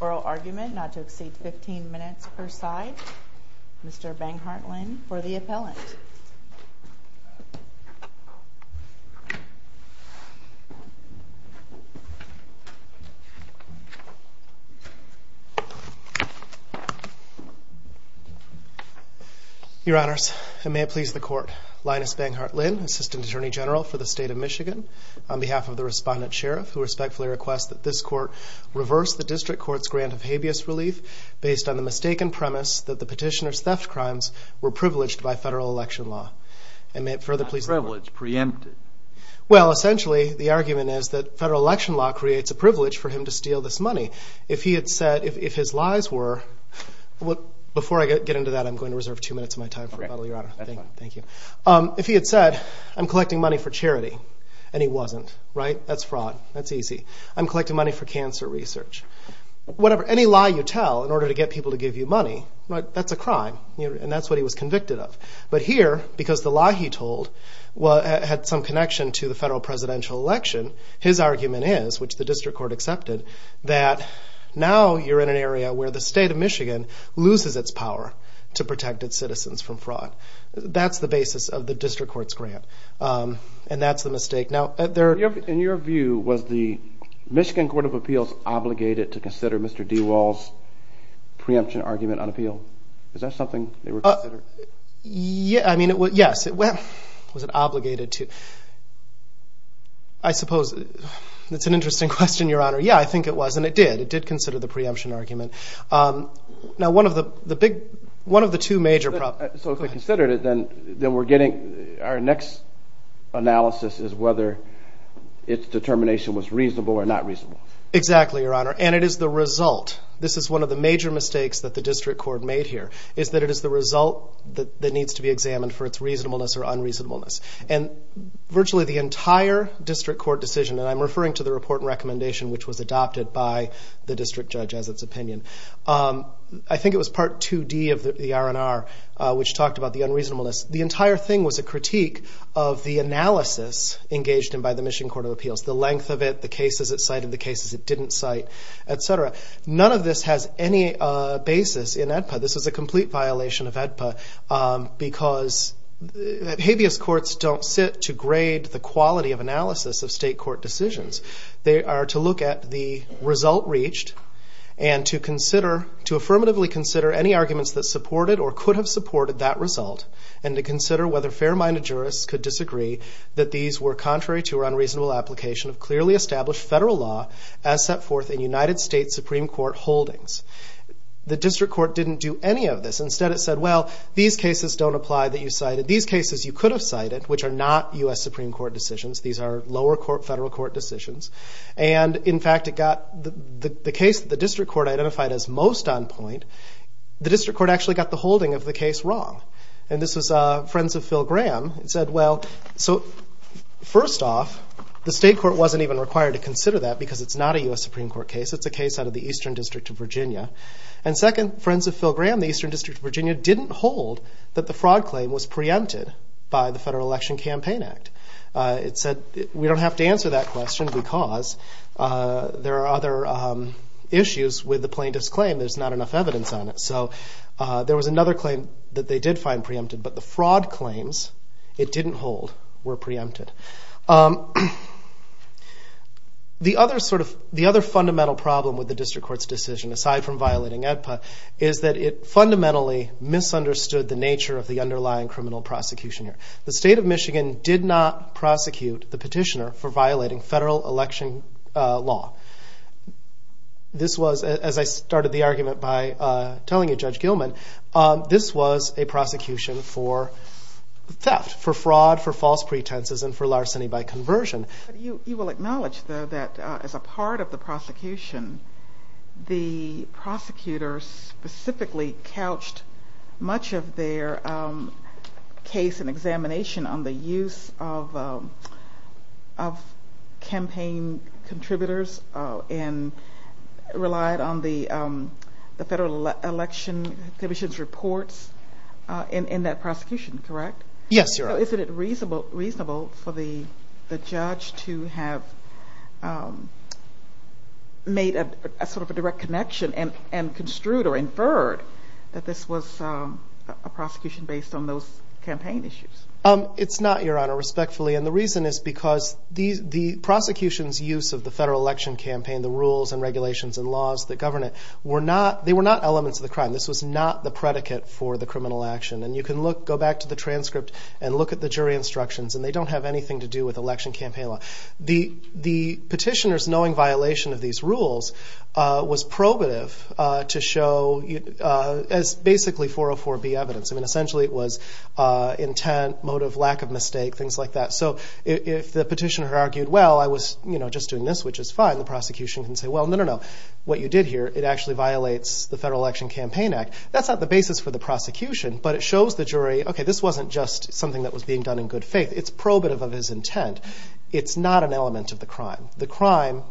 oral argument not to exceed 15 minutes per side. Mr. Banghart Lynn for the appellant. Your honors, and may it please the court, Linus Banghart Lynn, assistant attorney general for the state of Michigan, on behalf of the respondent sheriff who respectfully requests that this court reverse the district court's grant of habeas relief based on the mistaken premise that the petitioner's theft crimes were privileged by federal election law. And may it further please the court. Well essentially the argument is that federal election law creates a privilege for him to steal this money. If he had said, if his lies were, before I get into that I'm going to reserve two minutes of my time for rebuttal your honor. Thank you. If he had said, I'm collecting money for charity, and he wasn't, right? That's fraud. That's easy. I'm collecting money for cancer research. Whatever, any lie you tell in order to get people to give you money, that's a crime. And that's what he was convicted of. But here, because the lie he told had some connection to the federal presidential election, his argument is, which the district court accepted, that now you're in an area where the state of Michigan loses its power to protect its citizens from fraud. That's the basis of the district court's grant. And that's the mistake. In your view, was the Michigan Court of Appeals obligated to consider Mr. DeWall's preemption argument unappealed? Is that something they were considered? I mean, yes. Was it obligated to? I suppose, that's an interesting question, your honor. Yeah, I think it was, and it did. It did consider the preemption argument. Now, one of the two major problems. So if they considered it, then we're getting, our next analysis is whether its determination was reasonable or not reasonable. Exactly, your honor. And it is the result. This is one of the major mistakes that the district court made here, is that it is the result that needs to be examined for its reasonableness or unreasonableness. And virtually the entire district court decision, and I'm referring to the report and recommendation which was adopted by the district judge as its opinion, I think it was part 2D of the R&R, which talked about the unreasonableness, the entire thing was a critique of the analysis engaged in by the Michigan Court of Appeals. The length of it, the cases it cited, the cases it didn't cite, etc. None of this has any basis in AEDPA. This is a complete violation of AEDPA because habeas courts don't sit to grade the quality of analysis of state court decisions. They are to look at the result reached and to consider, to affirmatively consider any arguments that supported or could have supported that result and to consider whether fair-minded jurists could disagree that these were contrary to unreasonable application of clearly established federal law as set forth in United States Supreme Court holdings. The district court didn't do any of this. Instead it said, well, these cases don't apply that you cited. These cases you could have cited, which are not U.S. Supreme Court decisions. These are lower court, federal court decisions. And in fact it got the case that the district court identified as most on point, the district court actually got the holding of the case wrong. And this was Friends of Phil Graham. It said, well, so first off, the state court wasn't even required to consider that because it's not a U.S. Supreme Court case. It's a case out of the Eastern District of Virginia. And second, Friends of Phil Graham, the Eastern District of Virginia didn't hold that the fraud claim was preempted by the Federal Election Campaign Act. It said we don't have to answer that question because there are other issues with the plaintiff's claim. There's not enough evidence on it. So there was another claim that they did find preempted, but the fraud claims it didn't hold were preempted. The other fundamental problem with the district court's decision, aside from violating AEDPA, is that it fundamentally misunderstood the nature of the underlying criminal prosecution. The state of Michigan did not prosecute the petitioner for violating federal election law. This was, as I started the argument by telling you, Judge Gilman, this was a prosecution for theft, for fraud, for false pretenses, and for larceny by conversion. But you will acknowledge, though, that as a part of the prosecution, the prosecutors specifically couched much of their case and examination on the use of campaign contributors and relied on the Federal Election Commission's reports in that prosecution, correct? Yes, Your Honor. So is it reasonable for the judge to have made a sort of a direct connection and construed or inferred that this was a prosecution based on those campaign issues? It's not, Your Honor, respectfully. And the reason is because the prosecution's use of the federal election campaign, the rules and regulations and laws that govern it, they were not elements of the crime. This was not the predicate for the criminal action. And you can go back to the transcript and look at the jury instructions, and they don't have anything to do with election campaign law. The petitioner's knowing violation of these rules was probative to show as basically 404B evidence. I mean, essentially it was intent, motive, lack of mistake, things like that. So if the petitioner argued, well, I was just doing this, which is fine, the prosecution can say, well, no, no, no, what you did here, it actually violates the Federal Election Campaign Act. That's not the basis for the prosecution, but it shows the jury, okay, this wasn't just something that was being done in good faith. It's probative of his intent. It's not an element of the crime. The crime,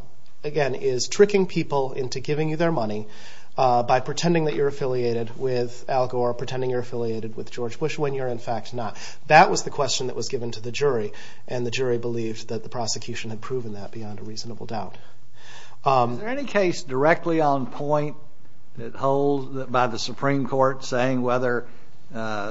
again, is tricking people into giving you their money by pretending that you're affiliated with Al Gore, pretending you're affiliated with George Bush, when you're in fact not. That was the question that was given to the jury, and the jury believed that the prosecution had proven that beyond a reasonable doubt. Is there any case directly on point that holds by the Supreme Court saying whether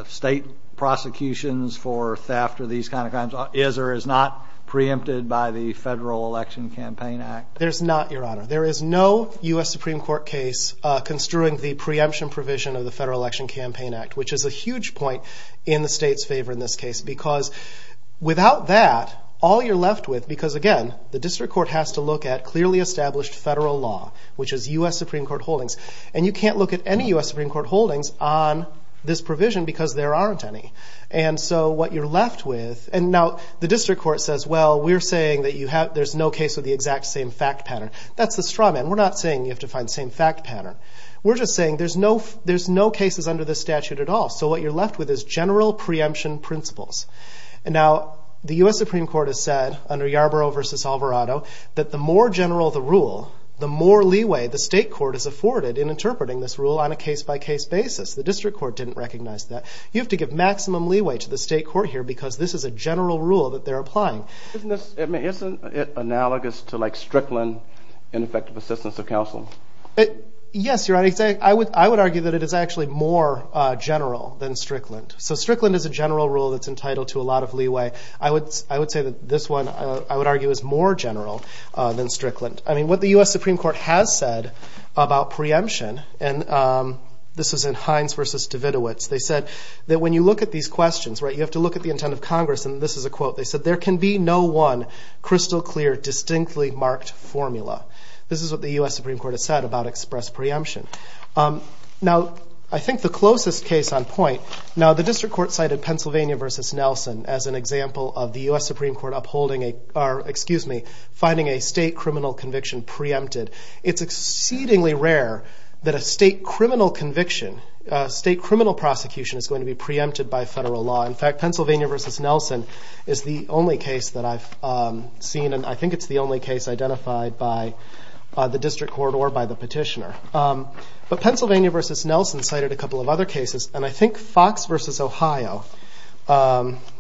state prosecutions for theft or these kinds of crimes is or is not preempted by the Federal Election Campaign Act? There's not, Your Honor. There is no U.S. Supreme Court case construing the preemption provision of the Federal Election Campaign Act, which is a huge point in the state's favor in this case, because without that, all you're left with, because again, the district court has to look at clearly established federal law, which is U.S. Supreme Court holdings, and you can't look at any U.S. Supreme Court holdings on this provision because there aren't any. And so what you're left with, and now the district court says, well, we're saying that there's no case with the exact same fact pattern. That's the straw man. We're not saying you have to find the same fact pattern. We're just saying there's no cases under this statute at all, so what you're left with is general preemption principles. And now the U.S. Supreme Court has said, under Yarbrough v. Alvarado, that the more general the rule, the more leeway the state court is afforded in interpreting this rule on a case-by-case basis. The district court didn't recognize that. You have to give maximum leeway to the state court here because this is a general rule that they're applying. Isn't this analogous to like Strickland in effective assistance of counseling? Yes, Your Honor. I would argue that it is actually more general than Strickland. So Strickland is a general rule that's entitled to a lot of leeway. I would say that this one, I would argue, is more general than Strickland. I mean, what the U.S. Supreme Court has said about preemption, and this is in Hines v. Davidovitz, they said that when you look at these questions, you have to look at the intent of Congress, and this is a quote, they said, there can be no one crystal clear, distinctly marked formula. This is what the U.S. Supreme Court has said about express preemption. Now, I think the closest case on point, now the district court cited Pennsylvania v. Nelson as an example of the U.S. Supreme Court finding a state criminal conviction preempted. It's exceedingly rare that a state criminal conviction, state criminal prosecution is going to be preempted by federal law. In fact, Pennsylvania v. Nelson is the only case that I've seen, and I think it's the only case identified by the district court or by the petitioner. But Pennsylvania v. Nelson cited a couple of other cases, and I think Fox v. Ohio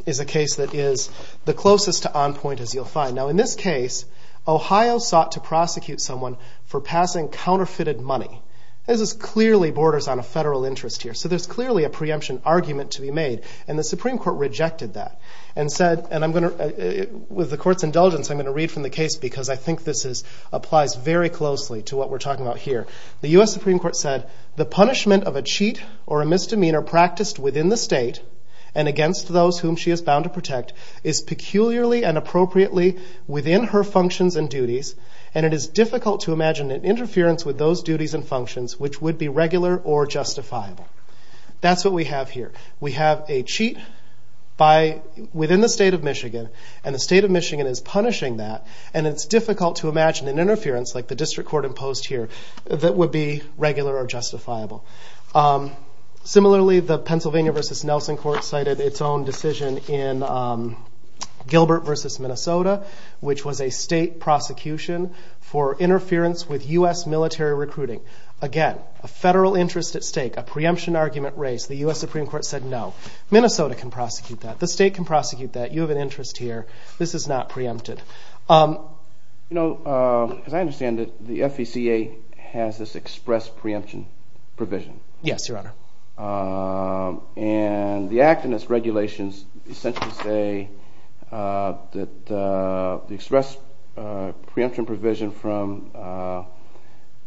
is a case that is the closest to on point as you'll find. Now, in this case, Ohio sought to prosecute someone for passing counterfeited money. This clearly borders on a federal interest here, so there's clearly a preemption argument to be made, and the Supreme Court rejected that and said, and I'm going to, with the court's indulgence, I'm going to read from the case because I think this applies very closely to what we're talking about here. The U.S. Supreme Court said, the punishment of a cheat or a misdemeanor practiced within the state and against those whom she is bound to protect is peculiarly and appropriately within her functions and duties, and it is difficult to imagine an interference with those duties and functions which would be regular or justifiable. That's what we have here. We have a cheat within the state of Michigan, and the state of Michigan is punishing that, and it's difficult to imagine an interference like the district court imposed here that would be regular or justifiable. Similarly, the Pennsylvania v. Nelson court cited its own decision in Gilbert v. Minnesota, which was a state prosecution for interference with U.S. military recruiting. Again, a federal interest at stake, a preemption argument raised. The U.S. Supreme Court said, no, Minnesota can prosecute that. The state can prosecute that. You have an interest here. This is not preempted. As I understand it, the FECA has this express preemption provision. Yes, Your Honor. And the act and its regulations essentially say that the express preemption provision from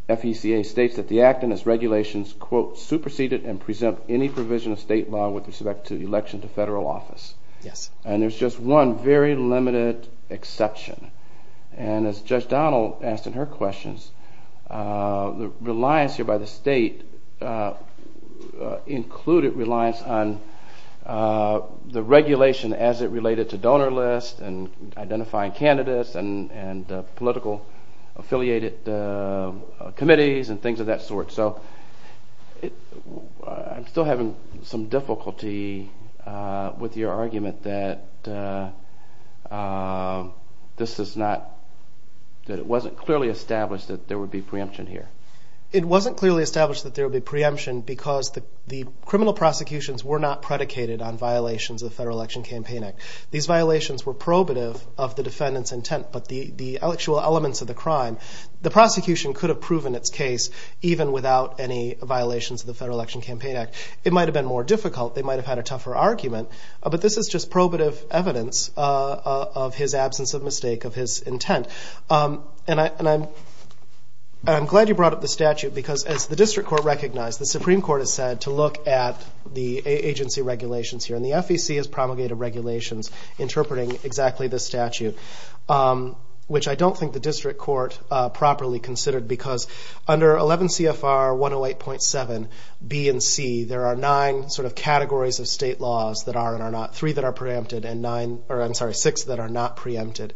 FECA states that the act and its regulations, quote, superseded and present any provision of state law with respect to the election to federal office. Yes. And there's just one very limited exception. And as Judge Donald asked in her questions, the reliance here by the state included reliance on the regulation as it related to donor list and identifying candidates and political affiliated committees and things of that sort. So I'm still having some difficulty with your argument that this is not – that it wasn't clearly established that there would be preemption here. It wasn't clearly established that there would be preemption because the criminal prosecutions were not predicated on violations of the Federal Election Campaign Act. These violations were probative of the defendant's intent, but the actual elements of the crime, the prosecution could have proven its case even without any violations of the Federal Election Campaign Act. It might have been more difficult. They might have had a tougher argument. But this is just probative evidence of his absence of mistake of his intent. And I'm glad you brought up the statute because as the district court recognized, the Supreme Court has said to look at the agency regulations here. And the FEC has promulgated regulations interpreting exactly this statute, which I don't think the district court properly considered because under 11 CFR 108.7B and C, there are nine sort of categories of state laws that are and are not – three that are preempted and nine – or I'm sorry, six that are not preempted.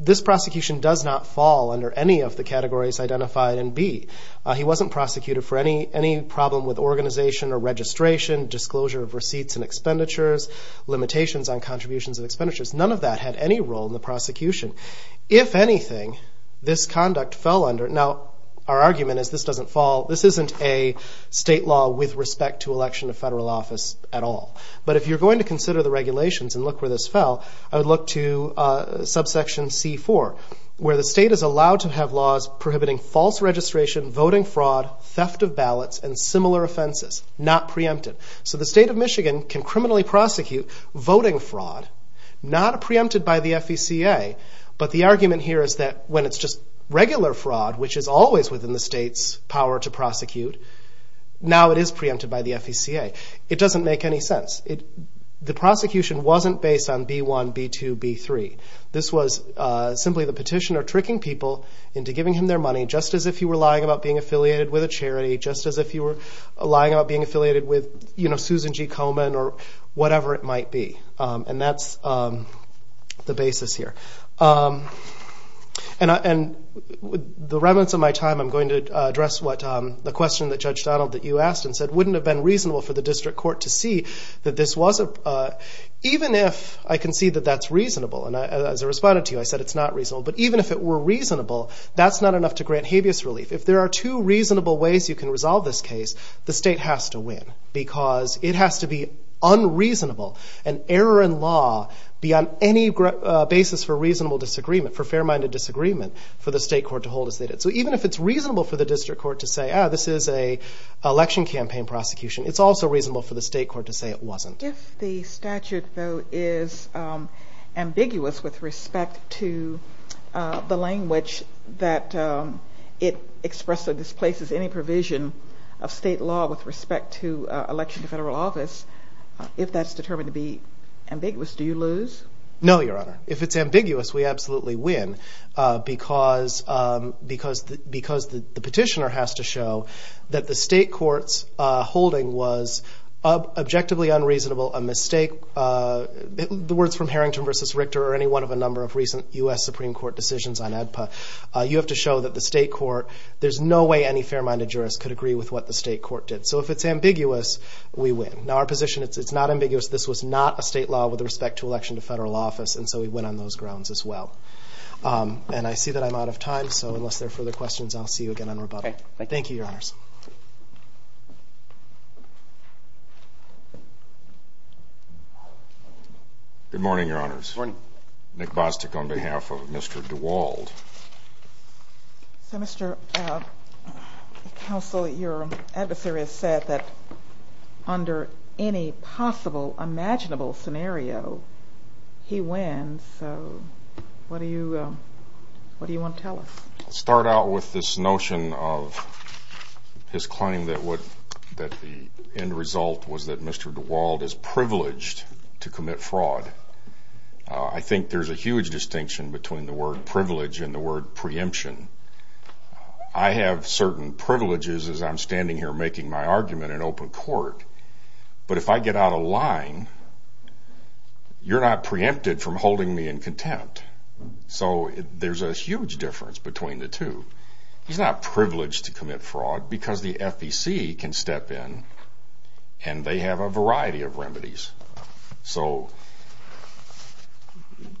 This prosecution does not fall under any of the categories identified in B. He wasn't prosecuted for any problem with organization or registration, disclosure of receipts and expenditures, limitations on contributions and expenditures. None of that had any role in the prosecution. If anything, this conduct fell under – now our argument is this doesn't fall – this isn't a state law with respect to election of federal office at all. But if you're going to consider the regulations and look where this fell, I would look to subsection C.4, where the state is allowed to have laws prohibiting false registration, voting fraud, theft of ballots and similar offenses. Not preempted. So the state of Michigan can criminally prosecute voting fraud, not preempted by the FECA, but the argument here is that when it's just regular fraud, which is always within the state's power to prosecute, now it is preempted by the FECA. It doesn't make any sense. The prosecution wasn't based on B1, B2, B3. This was simply the petitioner tricking people into giving him their money, just as if he were lying about being affiliated with a charity, just as if he were lying about being affiliated with Susan G. Komen or whatever it might be. And that's the basis here. And with the remnants of my time, I'm going to address the question that Judge Donald, that you asked and said wouldn't have been reasonable for the district court to see that this was – even if I can see that that's reasonable, and as I responded to you, I said it's not reasonable, but even if it were reasonable, that's not enough to grant habeas relief. If there are two reasonable ways you can resolve this case, the state has to win because it has to be unreasonable and error in law be on any basis for reasonable disagreement, for fair-minded disagreement for the state court to hold as they did. So even if it's reasonable for the district court to say, ah, this is an election campaign prosecution, it's also reasonable for the state court to say it wasn't. If the statute, though, is ambiguous with respect to the language that it expresses or displaces any provision of state law with respect to election to federal office, if that's determined to be ambiguous, do you lose? No, Your Honor. If it's ambiguous, we absolutely win because the petitioner has to show that the state court's holding was objectively unreasonable, a mistake – the words from Harrington v. Richter or any one of a number of recent U.S. Supreme Court decisions on ADPA – you have to show that the state court – there's no way any fair-minded jurist could agree with what the state court did. So if it's ambiguous, we win. Now our position is it's not ambiguous. This was not a state law with respect to election to federal office, and so we win on those grounds as well. And I see that I'm out of time, so unless there are further questions, I'll see you again on rebuttal. Thank you, Your Honors. Good morning, Your Honors. Good morning. Nick Bostic on behalf of Mr. DeWald. So, Mr. Counsel, your adversary has said that under any possible imaginable scenario, he wins, so what do you want to tell us? I'll start out with this notion of his claim that the end result was that Mr. DeWald is privileged to commit fraud. I think there's a huge distinction between the word privilege and the word preemption. I have certain privileges as I'm standing here making my argument in open court, but if I get out of line, you're not preempted from holding me in contempt. So there's a huge difference between the two. He's not privileged to commit fraud because the FEC can step in and they have a variety of remedies. So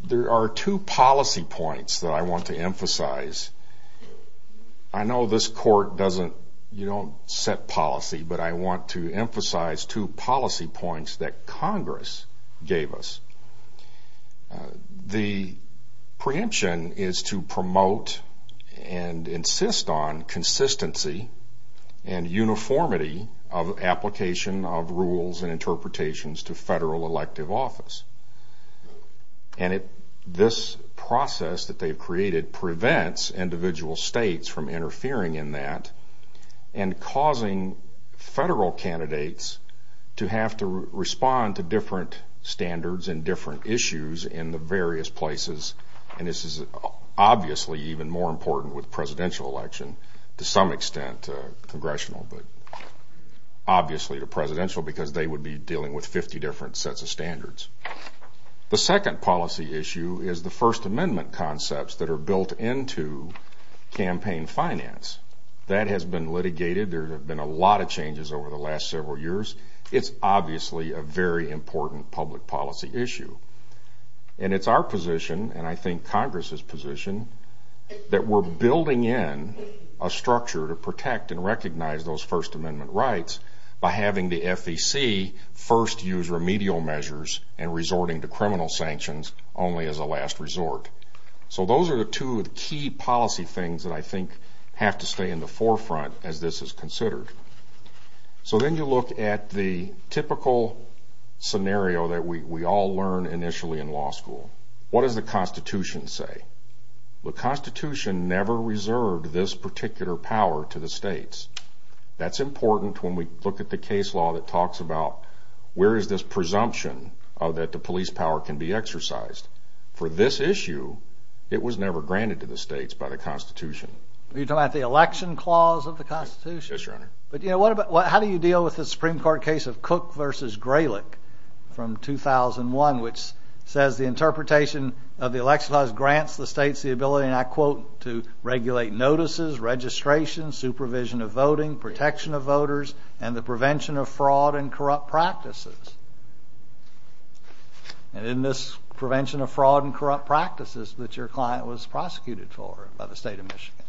there are two policy points that I want to emphasize. I know this court doesn't set policy, but I want to emphasize two policy points that Congress gave us. The preemption is to promote and insist on consistency and uniformity of application of rules and interpretations to federal elective office. And this process that they've created prevents individual states from interfering in that and causing federal candidates to have to respond to different standards and different issues in the various places. The second policy issue is the First Amendment concepts that are built into campaign finance. That has been litigated. There have been a lot of changes over the last several years. It's obviously a very important public policy issue. And it's our position, and I think Congress's position, that we're building in a structure to protect and recognize those First Amendment rights by having the FEC first use remedial measures and resorting to criminal sanctions only as a last resort. So those are the two key policy things that I think have to stay in the forefront as this is considered. So then you look at the typical scenario that we all learn initially in law school. What does the Constitution say? The Constitution never reserved this particular power to the states. That's important when we look at the case law that talks about where is this presumption that the police power can be exercised. For this issue, it was never granted to the states by the Constitution. You're talking about the election clause of the Constitution? Yes, Your Honor. But how do you deal with the Supreme Court case of Cook v. Gralick from 2001, which says the interpretation of the election clause grants the states the ability, and I quote, to regulate notices, registration, supervision of voting, protection of voters, and the prevention of fraud and corrupt practices. And in this prevention of fraud and corrupt practices that your client was prosecuted for by the state of Michigan?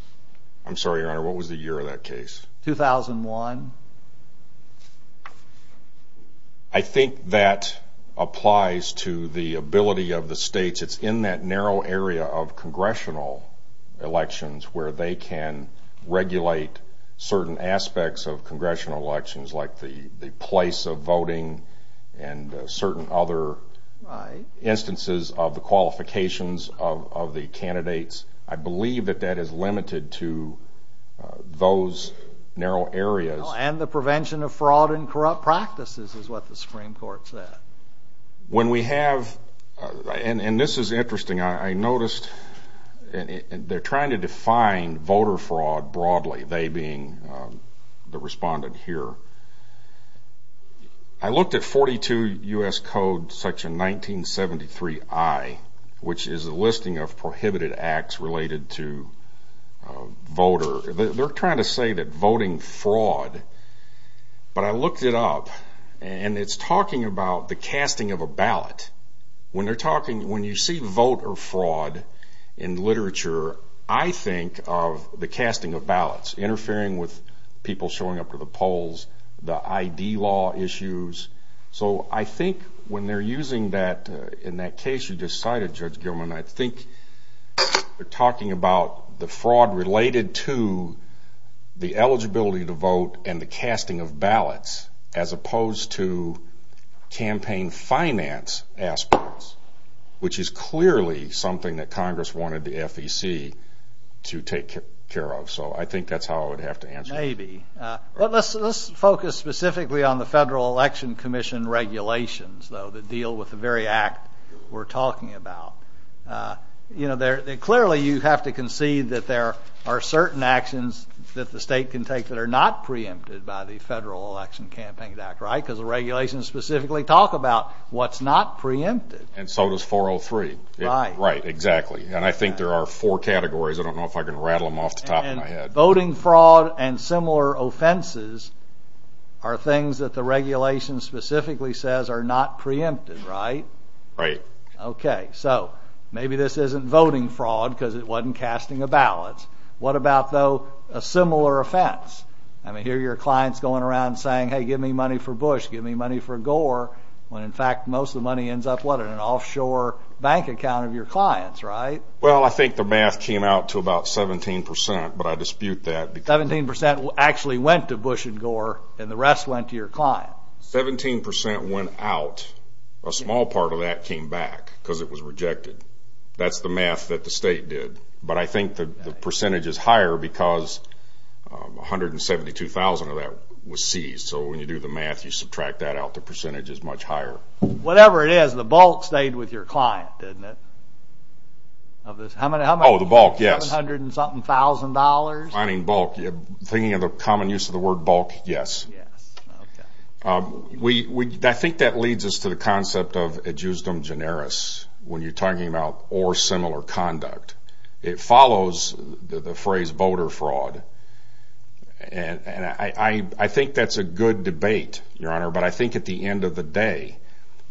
I'm sorry, Your Honor. What was the year of that case? 2001. I think that applies to the ability of the states. It's in that narrow area of congressional elections where they can regulate certain aspects of congressional elections like the place of voting. And certain other instances of the qualifications of the candidates. I believe that that is limited to those narrow areas. And the prevention of fraud and corrupt practices is what the Supreme Court said. When we have, and this is interesting, I noticed they're trying to define voter fraud broadly, they being the respondent here. I looked at 42 U.S. Code section 1973I, which is a listing of prohibited acts related to voter. They're trying to say that voting fraud, but I looked it up, and it's talking about the casting of a ballot. When they're talking, when you see voter fraud in literature, I think of the casting of ballots, interfering with people showing up to the polls, the ID law issues. So I think when they're using that, in that case you just cited, Judge Gilman, I think they're talking about the fraud related to the eligibility to vote and the casting of ballots as opposed to campaign finance aspects, which is clearly something that Congress wanted the FEC to take care of. So I think that's how I would have to answer. Let's focus specifically on the Federal Election Commission regulations, though, that deal with the very act we're talking about. Clearly you have to concede that there are certain actions that the state can take that are not preempted by the Federal Election Campaign Act, right? Because the regulations specifically talk about what's not preempted. And so does 403. Right. Right, exactly. And I think there are four categories. I don't know if I can rattle them off the top of my head. Voting fraud and similar offenses are things that the regulations specifically says are not preempted, right? Right. Okay. So maybe this isn't voting fraud because it wasn't casting of ballots. What about, though, a similar offense? I mean, I hear your clients going around saying, hey, give me money for Bush, give me money for Gore, when in fact most of the money ends up, what, in an offshore bank account of your clients, right? Well, I think the math came out to about 17%, but I dispute that. 17% actually went to Bush and Gore and the rest went to your client. 17% went out. A small part of that came back because it was rejected. That's the math that the state did. But I think the percentage is higher because 172,000 of that was seized. So when you do the math, you subtract that out. The percentage is much higher. Whatever it is, the bulk stayed with your client, didn't it? Oh, the bulk, yes. Seven hundred and something thousand dollars. Finding bulk. Thinking of the common use of the word bulk, yes. Yes. Okay. I think that leads us to the concept of ad justum generis when you're talking about or similar conduct. It follows the phrase voter fraud. And I think that's a good debate, Your Honor, but I think at the end of the day,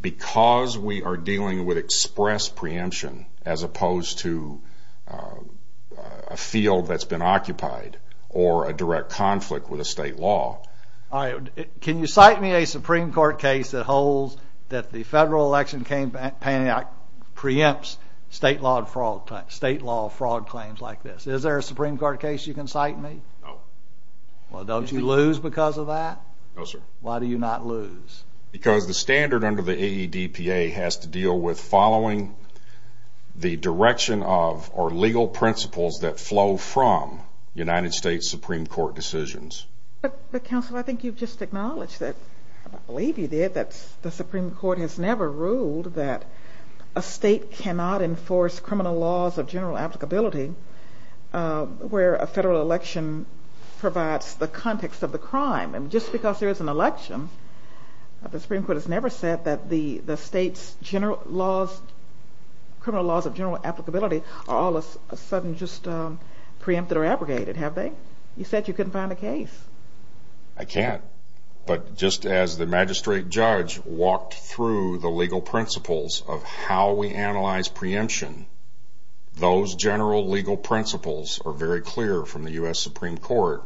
because we are dealing with express preemption as opposed to a field that's been occupied or a direct conflict with a state law. All right. Can you cite me a Supreme Court case that holds that the Federal Election Payment Act preempts state law fraud claims like this? Is there a Supreme Court case you can cite me? No. Well, don't you lose because of that? No, sir. Why do you not lose? Because the standard under the AEDPA has to deal with following the direction of or legal principles that flow from United States Supreme Court decisions. But, counsel, I think you've just acknowledged that, I believe you did, that the Supreme Court has never ruled that a state cannot enforce criminal laws of general applicability where a federal election provides the context of the crime. And just because there is an election, the Supreme Court has never said that the state's criminal laws of general applicability are all of a sudden just preempted or abrogated, have they? You said you couldn't find a case. I can't. But just as the magistrate judge walked through the legal principles of how we analyze preemption, those general legal principles are very clear from the U.S. Supreme Court,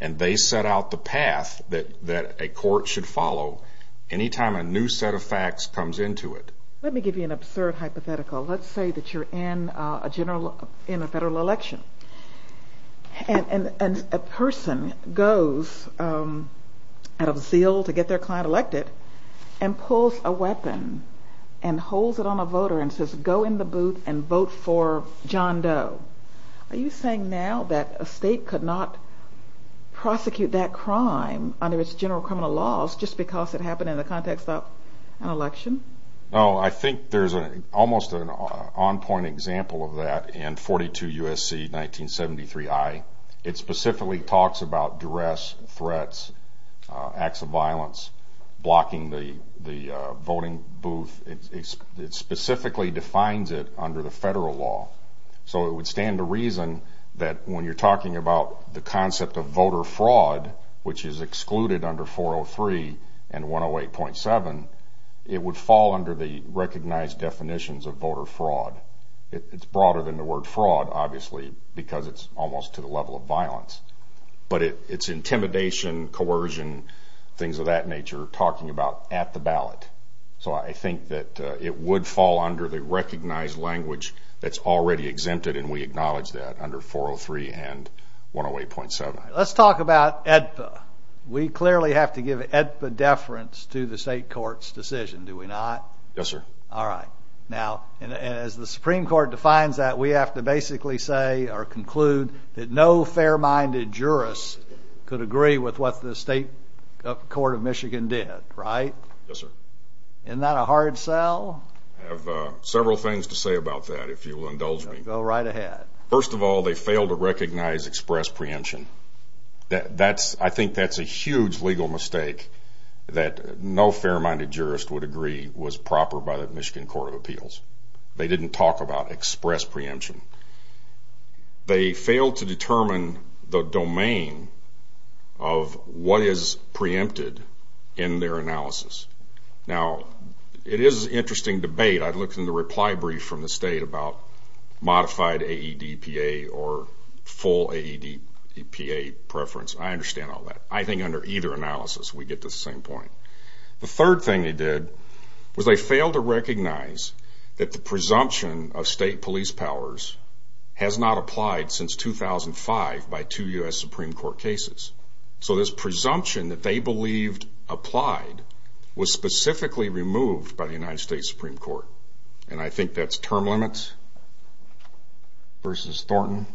and they set out the path that a court should follow any time a new set of facts comes into it. Let me give you an absurd hypothetical. Let's say that you're in a federal election, and a person goes out of zeal to get their client elected and pulls a weapon and holds it on a voter and says, go in the booth and vote for John Doe. Are you saying now that a state could not prosecute that crime under its general criminal laws just because it happened in the context of an election? No, I think there's almost an on-point example of that in 42 U.S.C. 1973I. It specifically talks about duress, threats, acts of violence, blocking the voting booth. It specifically defines it under the federal law. So it would stand to reason that when you're talking about the concept of voter fraud, which is excluded under 403 and 108.7, it would fall under the recognized definitions of voter fraud. It's broader than the word fraud, obviously, because it's almost to the level of violence. But it's intimidation, coercion, things of that nature, talking about at the ballot. So I think that it would fall under the recognized language that's already exempted, and we acknowledge that under 403 and 108.7. All right. Let's talk about AEDPA. We clearly have to give AEDPA deference to the state court's decision, do we not? Yes, sir. All right. Now, as the Supreme Court defines that, we have to basically say or conclude that no fair-minded jurist could agree with what the state court of Michigan did, right? Yes, sir. Isn't that a hard sell? I have several things to say about that, if you'll indulge me. Go right ahead. First of all, they failed to recognize express preemption. I think that's a huge legal mistake that no fair-minded jurist would agree was proper by the Michigan Court of Appeals. They didn't talk about express preemption. They failed to determine the domain of what is preempted in their analysis. Now, it is an interesting debate. I looked in the reply brief from the state about modified AEDPA or full AEDPA preference. I understand all that. I think under either analysis, we get to the same point. The third thing they did was they failed to recognize that the presumption of state police powers has not applied since 2005 by two U.S. Supreme Court cases. So this presumption that they believed applied was specifically removed by the United States Supreme Court. And I think that's term limits versus Thornton.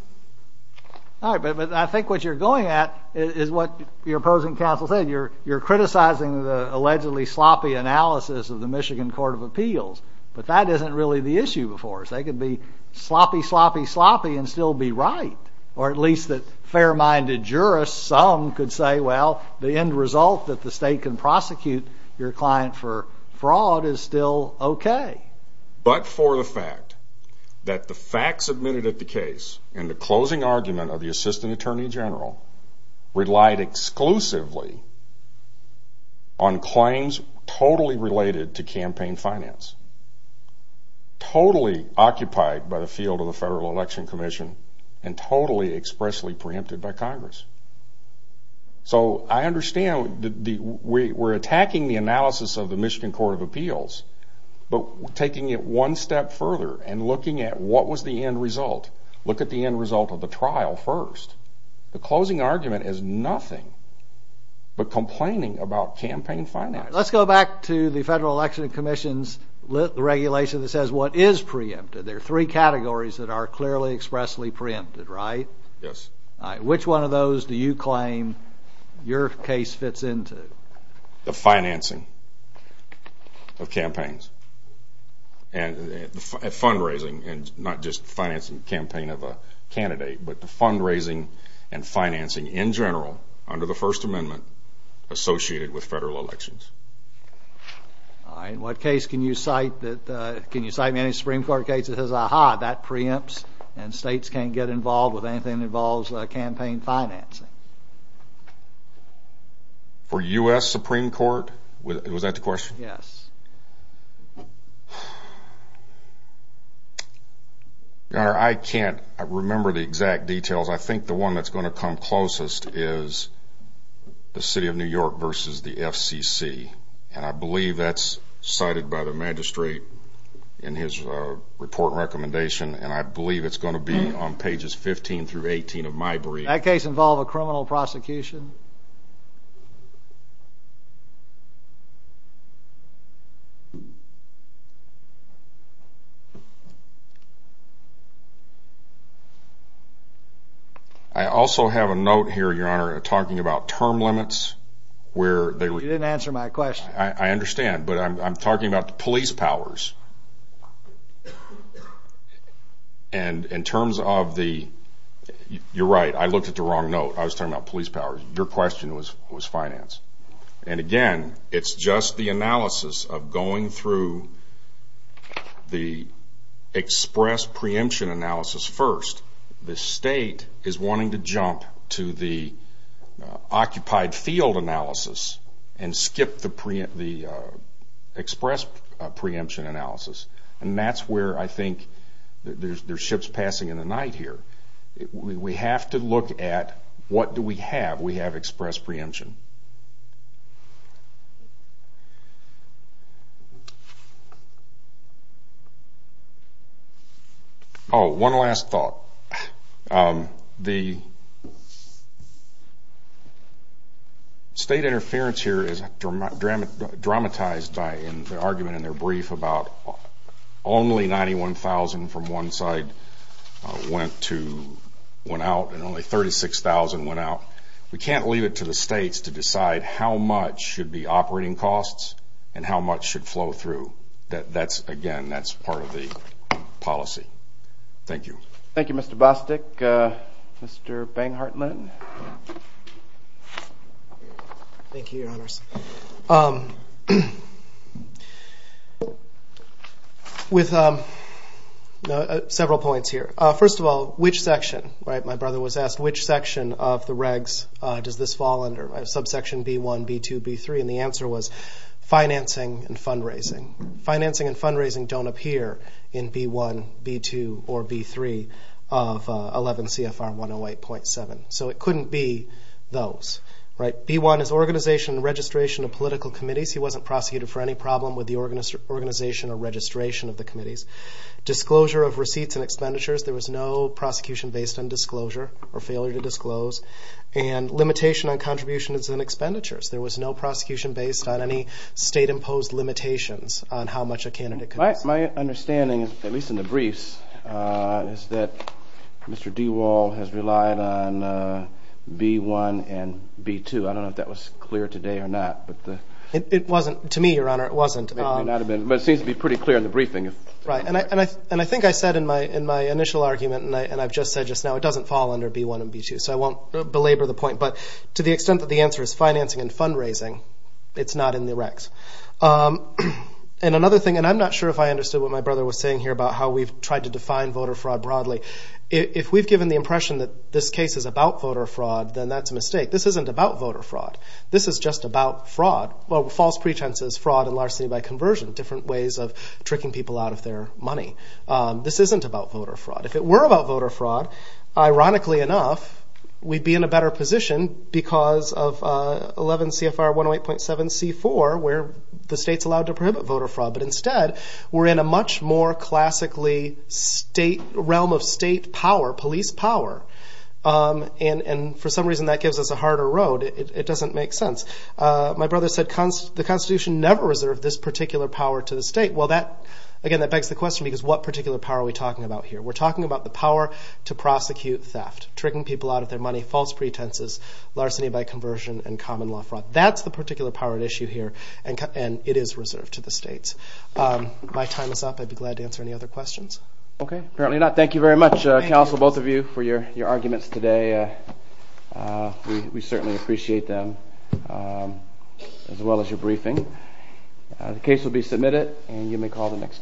All right. But I think what you're going at is what your opposing counsel said. You're criticizing the allegedly sloppy analysis of the Michigan Court of Appeals. But that isn't really the issue before us. They could be sloppy, sloppy, sloppy and still be right. Or at least that fair-minded jurists, some, could say, well, the end result that the state can prosecute your client for fraud is still okay. But for the fact that the facts admitted at the case and the closing argument of the Assistant Attorney General relied exclusively on claims totally related to campaign finance, totally occupied by the field of the Federal Election Commission and totally expressly preempted by Congress. So I understand we're attacking the analysis of the Michigan Court of Appeals, but taking it one step further and looking at what was the end result, look at the end result of the trial first. The closing argument is nothing but complaining about campaign finance. All right. Let's go back to the Federal Election Commission's regulation that says what is preempted. There are three categories that are clearly expressly preempted, right? Yes. All right. Which one of those do you claim your case fits into? The financing of campaigns and fundraising and not just financing campaign of a candidate, but the fundraising and financing in general under the First Amendment associated with federal elections. All right. In what case can you cite that, can you cite any Supreme Court case that says, aha, that preempts and states can't get involved with anything that involves campaign financing? For U.S. Supreme Court? Was that the question? Yes. Your Honor, I can't remember the exact details. I think the one that's going to come closest is the City of New York versus the FCC, and I believe that's cited by the magistrate in his report recommendation, and I believe it's going to be on pages 15 through 18 of my brief. Does that case involve a criminal prosecution? I also have a note here, Your Honor, talking about term limits. You didn't answer my question. I understand, but I'm talking about the police powers. You're right. I looked at the wrong note. I was talking about police powers. Your question was finance, and again, it's just the analysis of going through the express preemption analysis first. The state is wanting to jump to the occupied field analysis and skip the express preemption analysis, and that's where I think there's ships passing in the night here. We have to look at what do we have. We have express preemption. Oh, one last thought. The state interference here is dramatized by the argument in their brief about only 91,000 from one side went out and only 36,000 went out. We can't leave it to the states to decide how much should be operating costs and how much should flow through. Again, that's part of the policy. Thank you. Thank you, Mr. Bostic. Mr. Banghardt-Lennon? Thank you, Your Honors. With several points here. First of all, which section of the regs does this fall under? Subsection B1, B2, B3, and the answer was financing and fundraising. Financing and fundraising don't appear in B1, B2, or B3 of 11 CFR 108.7. So it couldn't be those. B1 is organization and registration of political committees. He wasn't prosecuted for any problem with the organization or registration of the committees. Disclosure of receipts and expenditures. There was no prosecution based on disclosure or failure to disclose. And limitation on contributions and expenditures. There was no prosecution based on any state-imposed limitations on how much a candidate could receive. My understanding, at least in the briefs, is that Mr. DeWall has relied on B1 and B2. I don't know if that was clear today or not. It wasn't to me, Your Honor. It wasn't. But it seems to be pretty clear in the briefing. Right. And I think I said in my initial argument, and I've just said just now, it doesn't fall under B1 and B2. So I won't belabor the point. But to the extent that the answer is financing and fundraising, it's not in the recs. And another thing, and I'm not sure if I understood what my brother was saying here about how we've tried to define voter fraud broadly. If we've given the impression that this case is about voter fraud, then that's a mistake. This isn't about voter fraud. This is just about fraud. Well, false pretenses, fraud, and larceny by conversion. Different ways of tricking people out of their money. This isn't about voter fraud. If it were about voter fraud, ironically enough, we'd be in a better position because of 11 CFR 108.7C4 where the state's allowed to prohibit voter fraud. But instead, we're in a much more classically realm of state power, police power. And for some reason that gives us a harder road. It doesn't make sense. My brother said the Constitution never reserved this particular power to the state. Well, again, that begs the question because what particular power are we talking about here? We're talking about the power to prosecute theft, tricking people out of their money, false pretenses, larceny by conversion, and common law fraud. That's the particular power at issue here, and it is reserved to the states. My time is up. I'd be glad to answer any other questions. Okay. Thank you very much, counsel, both of you, for your arguments today. We certainly appreciate them, as well as your briefing. The case will be submitted, and you may call the next case.